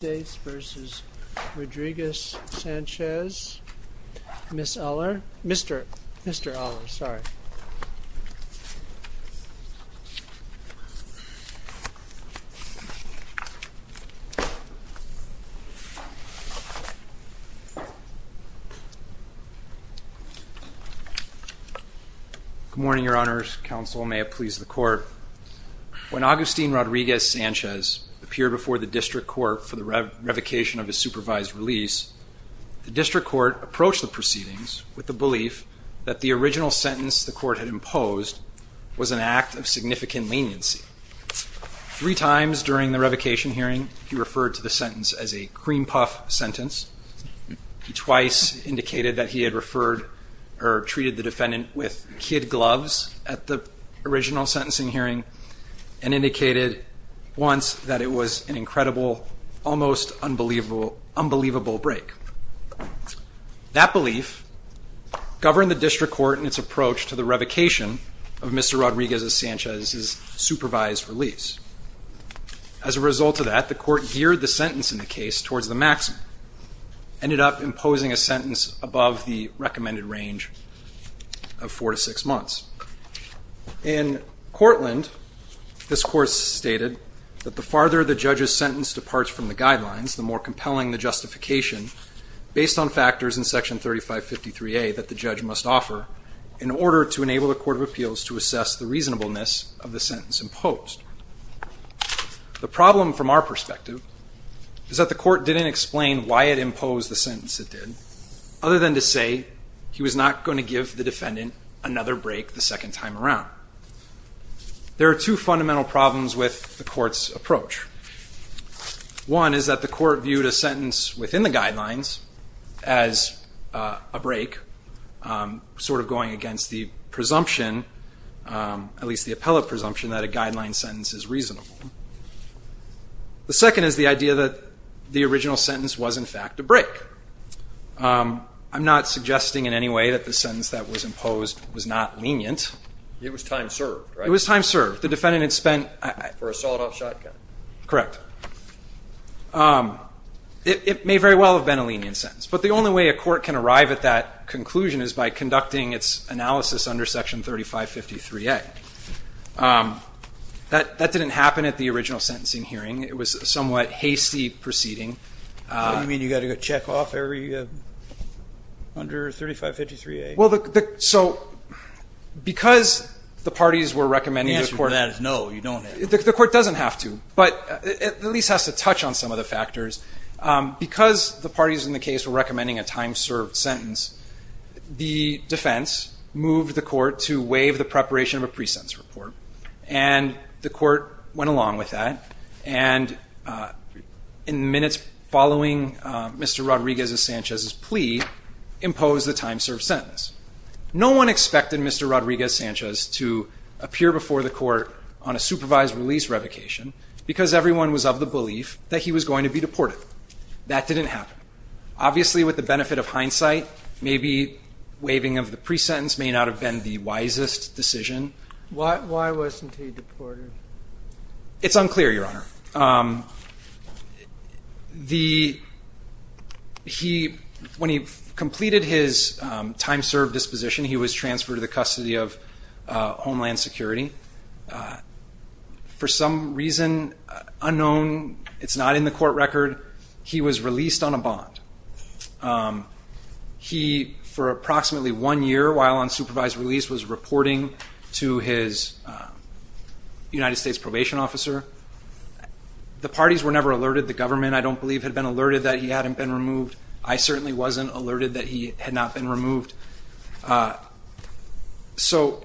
v. Rodriguez-Sanchez, Mr. Eller, sorry. Good morning, Your Honors. Counsel, may it please the Court. When Agustin Rodriguez-Sanchez appeared before the district court for the revocation of his supervised release, the district court approached the proceedings with the belief that the original sentence the court had imposed was an act of significant leniency. Three times during the revocation hearing, he referred to the sentence as a cream puff sentence. He twice indicated that he had referred or treated the defendant with kid gloves at the original sentencing hearing. And indicated once that it was an incredible, almost unbelievable break. That belief governed the district court in its approach to the revocation of Mr. Rodriguez-Sanchez's supervised release. As a result of that, the court geared the sentence in the case towards the maximum, ended up imposing a sentence above the recommended range of four to six months. In Courtland, this court stated that the farther the judge's sentence departs from the guidelines, the more compelling the justification, based on factors in Section 3553A that the judge must offer, in order to enable the Court of Appeals to assess the reasonableness of the sentence imposed. The problem, from our perspective, is that the court didn't explain why it imposed the sentence it did, other than to say he was not going to give the defendant another break the next time. There are two fundamental problems with the court's approach. One is that the court viewed a sentence within the guidelines as a break, sort of going against the presumption, at least the appellate presumption, that a guideline sentence is reasonable. The second is the idea that the original sentence was, in fact, a break. I'm not suggesting in any way that the sentence that was imposed was not lenient. It was time served, right? It was time served. The defendant had spent... For a sawed-off shotgun. Correct. It may very well have been a lenient sentence, but the only way a court can arrive at that conclusion is by conducting its analysis under Section 3553A. That didn't happen at the original sentencing hearing. It was a somewhat hasty proceeding. What do you mean? You've got to check off under 3553A? Because the parties were recommending... The answer to that is no, you don't have to. The court doesn't have to, but it at least has to touch on some of the factors. Because the parties in the case were recommending a time-served sentence, the defense moved the court to waive the preparation of a pre-sentence report. And the court went along with that, and in minutes following Mr. Rodriguez-Sanchez's plea, imposed the time-served sentence. No one expected Mr. Rodriguez-Sanchez to appear before the court on a supervised release revocation because everyone was of the belief that he was going to be deported. That didn't happen. Obviously, with the benefit of hindsight, maybe waiving of the pre-sentence may not have been the wisest decision. Why wasn't he deported? It's unclear, Your Honor. When he completed his time-served disposition, he was transferred to the custody of Homeland Security. For some reason unknown, it's not in the court record, he was released on a bond. He, for approximately one year while on supervised release, was reporting to his United States Probation Officer. The parties were never alerted. The government, I don't believe, had been alerted that he hadn't been removed. I certainly wasn't alerted that he had not been removed. So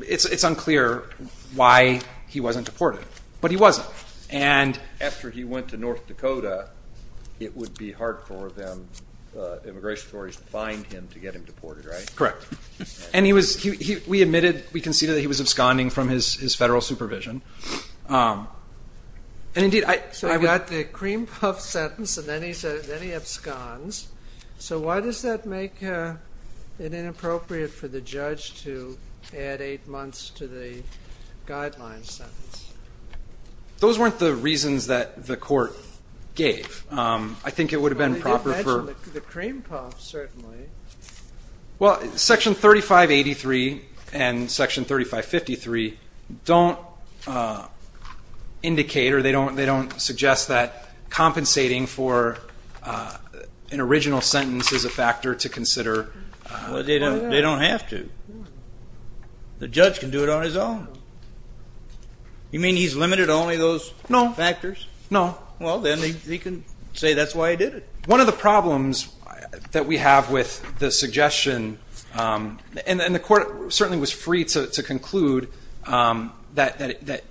it's unclear why he wasn't deported, but he wasn't. After he went to North Dakota, it would be hard for them, immigration authorities, to find him to get him deported, right? Correct. And he was, we admitted, we conceded that he was absconding from his Federal supervision. So I've got the cream puff sentence, and then he absconds. So why does that make it inappropriate for the judge to add eight months to the guideline sentence? Those weren't the reasons that the court gave. I think it would have been proper for... Well, Section 3583 and Section 3553 don't indicate or they don't suggest that compensating for an original sentence is a factor to consider. They don't have to. The judge can do it on his own. You mean he's limited to only those factors? No. Well, then he can say that's why he did it. One of the problems that we have with the suggestion, and the court certainly was free to conclude that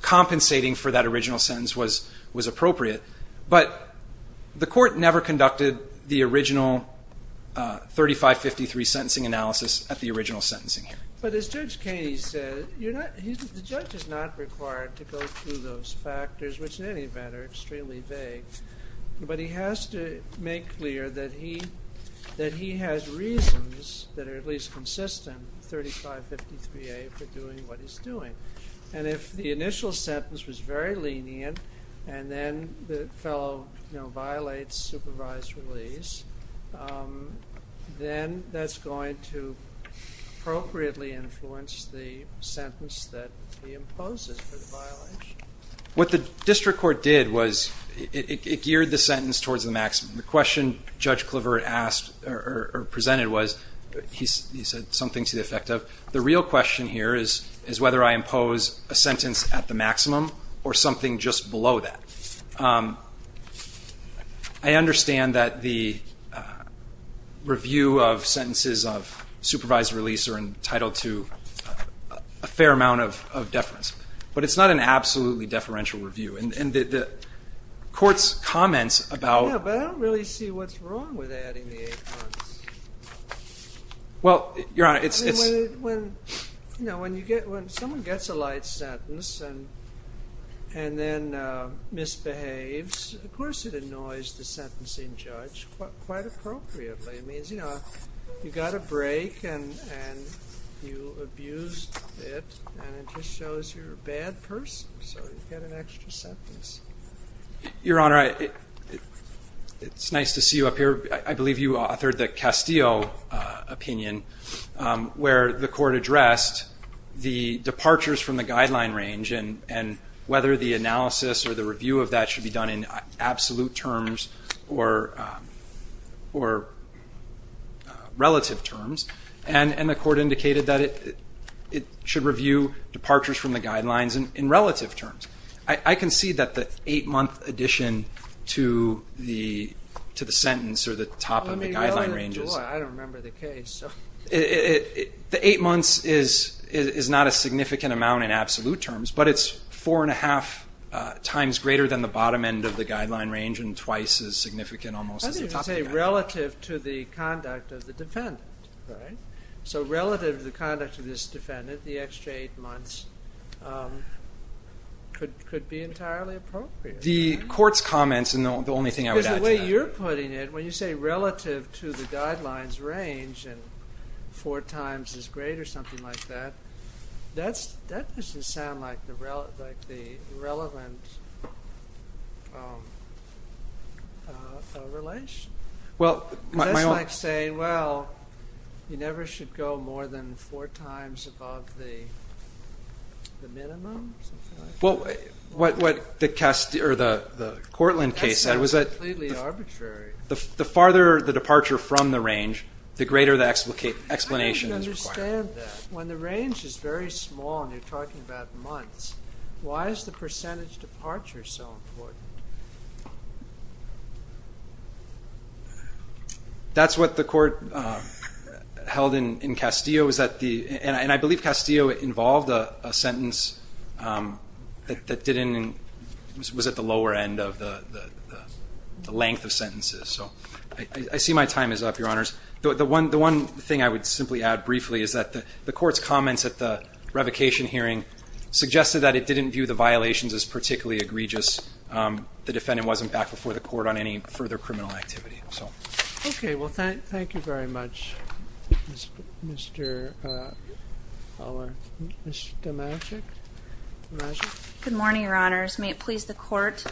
compensating for that original sentence was appropriate, but the court never conducted the original 3553 sentencing analysis at the original sentencing hearing. But as Judge Kaney said, the judge is not required to go through those factors, which in any event are extremely vague. But he has to make clear that he has reasons that are at least consistent, 3553A, for doing what he's doing. And if the initial sentence was very lenient, and then the fellow violates supervised release, then that's going to appropriately influence the sentence that he imposes for the violation. What the district court did was it geared the sentence towards the maximum. The question Judge Cliver presented was, he said something to the effect of, the real question here is whether I impose a sentence at the maximum or something just below that. I understand that the review of sentences of supervised release are entitled to a fair amount of deference, but it's not an absolutely deferential review. And the court's comments about the 8 months. Well, Your Honor, it's... When someone gets a light sentence and then misbehaves, of course it annoys the sentencing judge quite appropriately. It means you got a break and you abused it, and it just shows you're a bad person, so you get an extra sentence. Your Honor, it's nice to see you up here. I believe you authored the Castillo opinion, where the court addressed the departures from the guideline range and whether the analysis or the review of that should be done in absolute terms or relative terms. And the court indicated that it should review departures from the guidelines in relative terms. I can see that the 8-month addition to the sentence or the top of the guideline range is... The 8 months is not a significant amount in absolute terms, but it's 4 1⁄2 times greater than the bottom end of the guideline range and twice as significant almost as the top end. Relative to the conduct of the defendant. So relative to the conduct of this defendant, the extra 8 months could be entirely appropriate. Because the way you're putting it, when you say relative to the guidelines range and four times as great or something like that, that doesn't sound like the relevant relationship. That's like saying, well, you never should go more than four times above the minimum or something like that. That sounds completely arbitrary. The farther the departure from the range, the greater the explanation is required. I don't understand that. When the range is very small and you're talking about months, why is the percentage departure so important? That's what the court held in Castillo. And I believe Castillo involved a sentence that was at the lower end of the length of sentences. I see my time is up, Your Honors. The court's comments at the revocation hearing suggested that it didn't view the violations as particularly egregious. The defendant wasn't back before the court on any further criminal activity. Okay. Well, thank you very much. Ms. Dimashik. Good morning, Your Honors. May it please the court?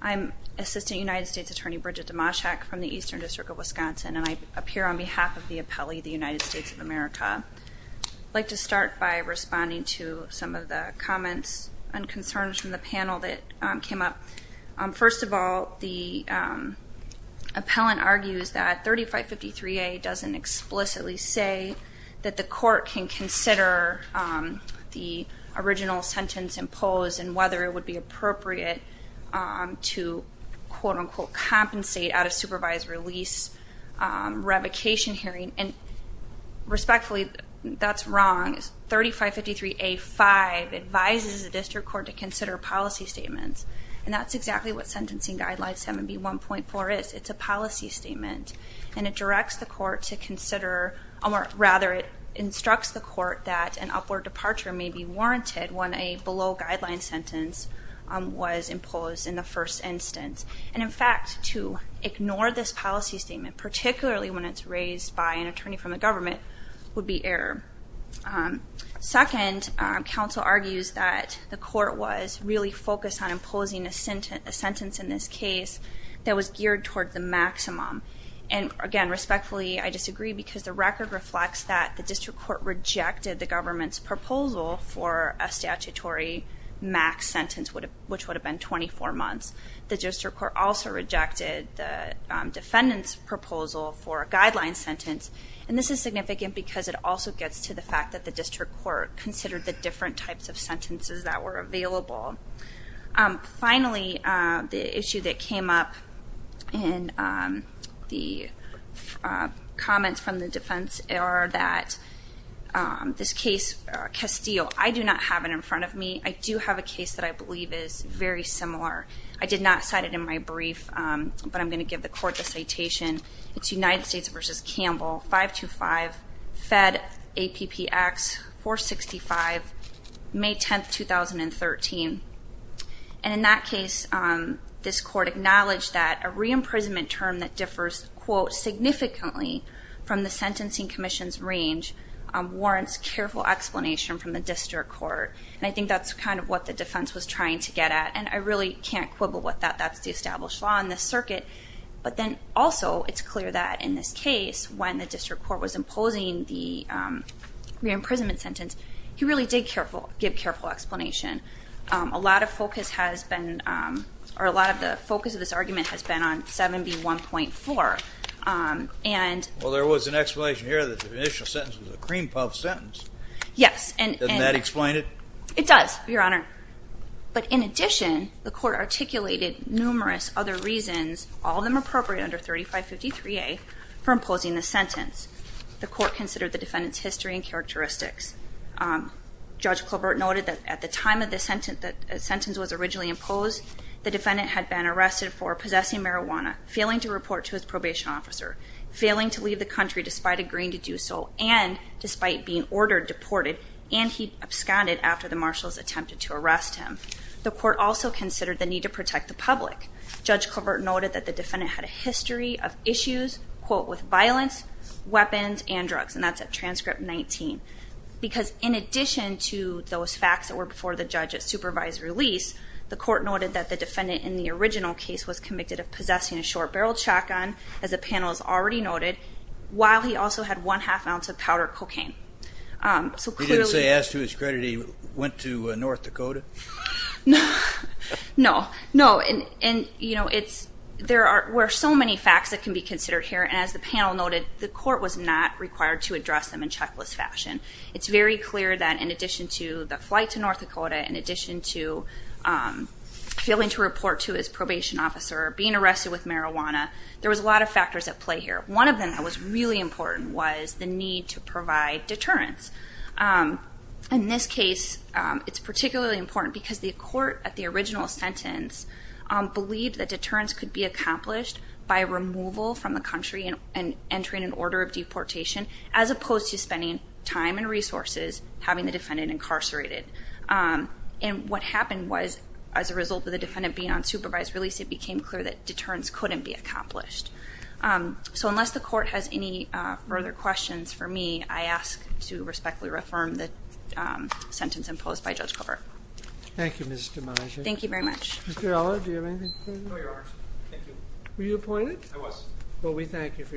I'm Assistant United States Attorney Bridget Dimashik from the Eastern District of Wisconsin, and I appear on behalf of the appellee, the United States of America. I'd like to start by responding to some of the comments and concerns from the panel that came up. First of all, the appellant argues that 3553A doesn't address the question of whether the original sentence imposed and whether it would be appropriate to quote-unquote compensate out of supervised release revocation hearing. And respectfully, that's wrong. 3553A-5 advises the district court to consider policy statements, and that's exactly what Sentencing Guidelines 7B1.4 is. It's a policy statement, and it directs the court to consider or rather it instructs the court that an upward departure may be warranted when a below-guideline sentence was imposed in the first instance. And in fact, to ignore this policy statement, particularly when it's raised by an attorney from the government, would be error. Second, counsel argues that the court was really focused on imposing a sentence in this case that was geared toward the maximum. And again, respectfully, I disagree because the record reflects that the district court rejected the government's proposal for a statutory max sentence, which would have been 24 months. The district court also rejected the defendant's proposal for a guideline sentence, and this is significant because it also gets to the fact that the district court considered the different types of sentences that were used in this case. I do not have it in front of me. I do have a case that I believe is very similar. I did not cite it in my brief, but I'm going to give the court the citation. It's United States v. Campbell, 525 FED APPX 465, May 10, 2013. And in that case, this court acknowledged that a re-imprisonment term that differs, quote, significantly from the sentencing commission's range warrants careful explanation from the district court. And I think that's kind of what the defense was trying to get at. And I really can't quibble with that. That's the established law in this circuit. But then also, it's clear that in this case, when the district court was imposing the re-imprisonment sentence, he really did give careful explanation. A lot of the focus of this argument has been on 7B1.4. Well, there was an explanation here that the initial sentence was a cream puff sentence. Doesn't that explain it? It does, Your Honor. But in addition, the court articulated numerous other reasons, all of them appropriate under 3553A, for imposing the sentence. The court considered the defendant's history and characteristics. Judge Colbert noted that at the time the sentence was originally imposed, the defendant had been arrested for possessing marijuana, failing to report to his probation officer, failing to leave the country despite agreeing to do so, and despite being ordered deported, and he absconded after the marshals attempted to the defendant had a history of issues, quote, with violence, weapons, and drugs. And that's at transcript 19. Because in addition to those facts that were before the judge at supervised release, the court noted that the defendant in the original case was convicted of possessing a short-barreled shotgun, as the panel has already noted, while he also had one-half ounce of powdered cocaine. He didn't say, as to his credit, he went to North Dakota? No. No. And, you know, it's, there are, there are so many facts that can be considered here, and as the panel noted, the court was not required to address them in checklist fashion. It's very clear that in addition to the flight to North Dakota, in addition to failing to report to his probation officer, being arrested with marijuana, there was a lot of factors at play here. One of them that was really important was the need to report to the court. Because the court at the original sentence believed that deterrence could be accomplished by removal from the country and entering an order of deportation, as opposed to spending time and resources having the defendant incarcerated. And what happened was, as a result of the defendant being on supervised release, it became clear that deterrence couldn't be accomplished. So unless the court has any further questions for me, I ask to respectfully reaffirm the sentence imposed by Judge Cobert. Thank you, Ms. Demasi. Thank you very much. Mr. Eller, do you have anything to say? No, Your Honor. Thank you. Were you appointed? I was. Well, we thank you for your efforts.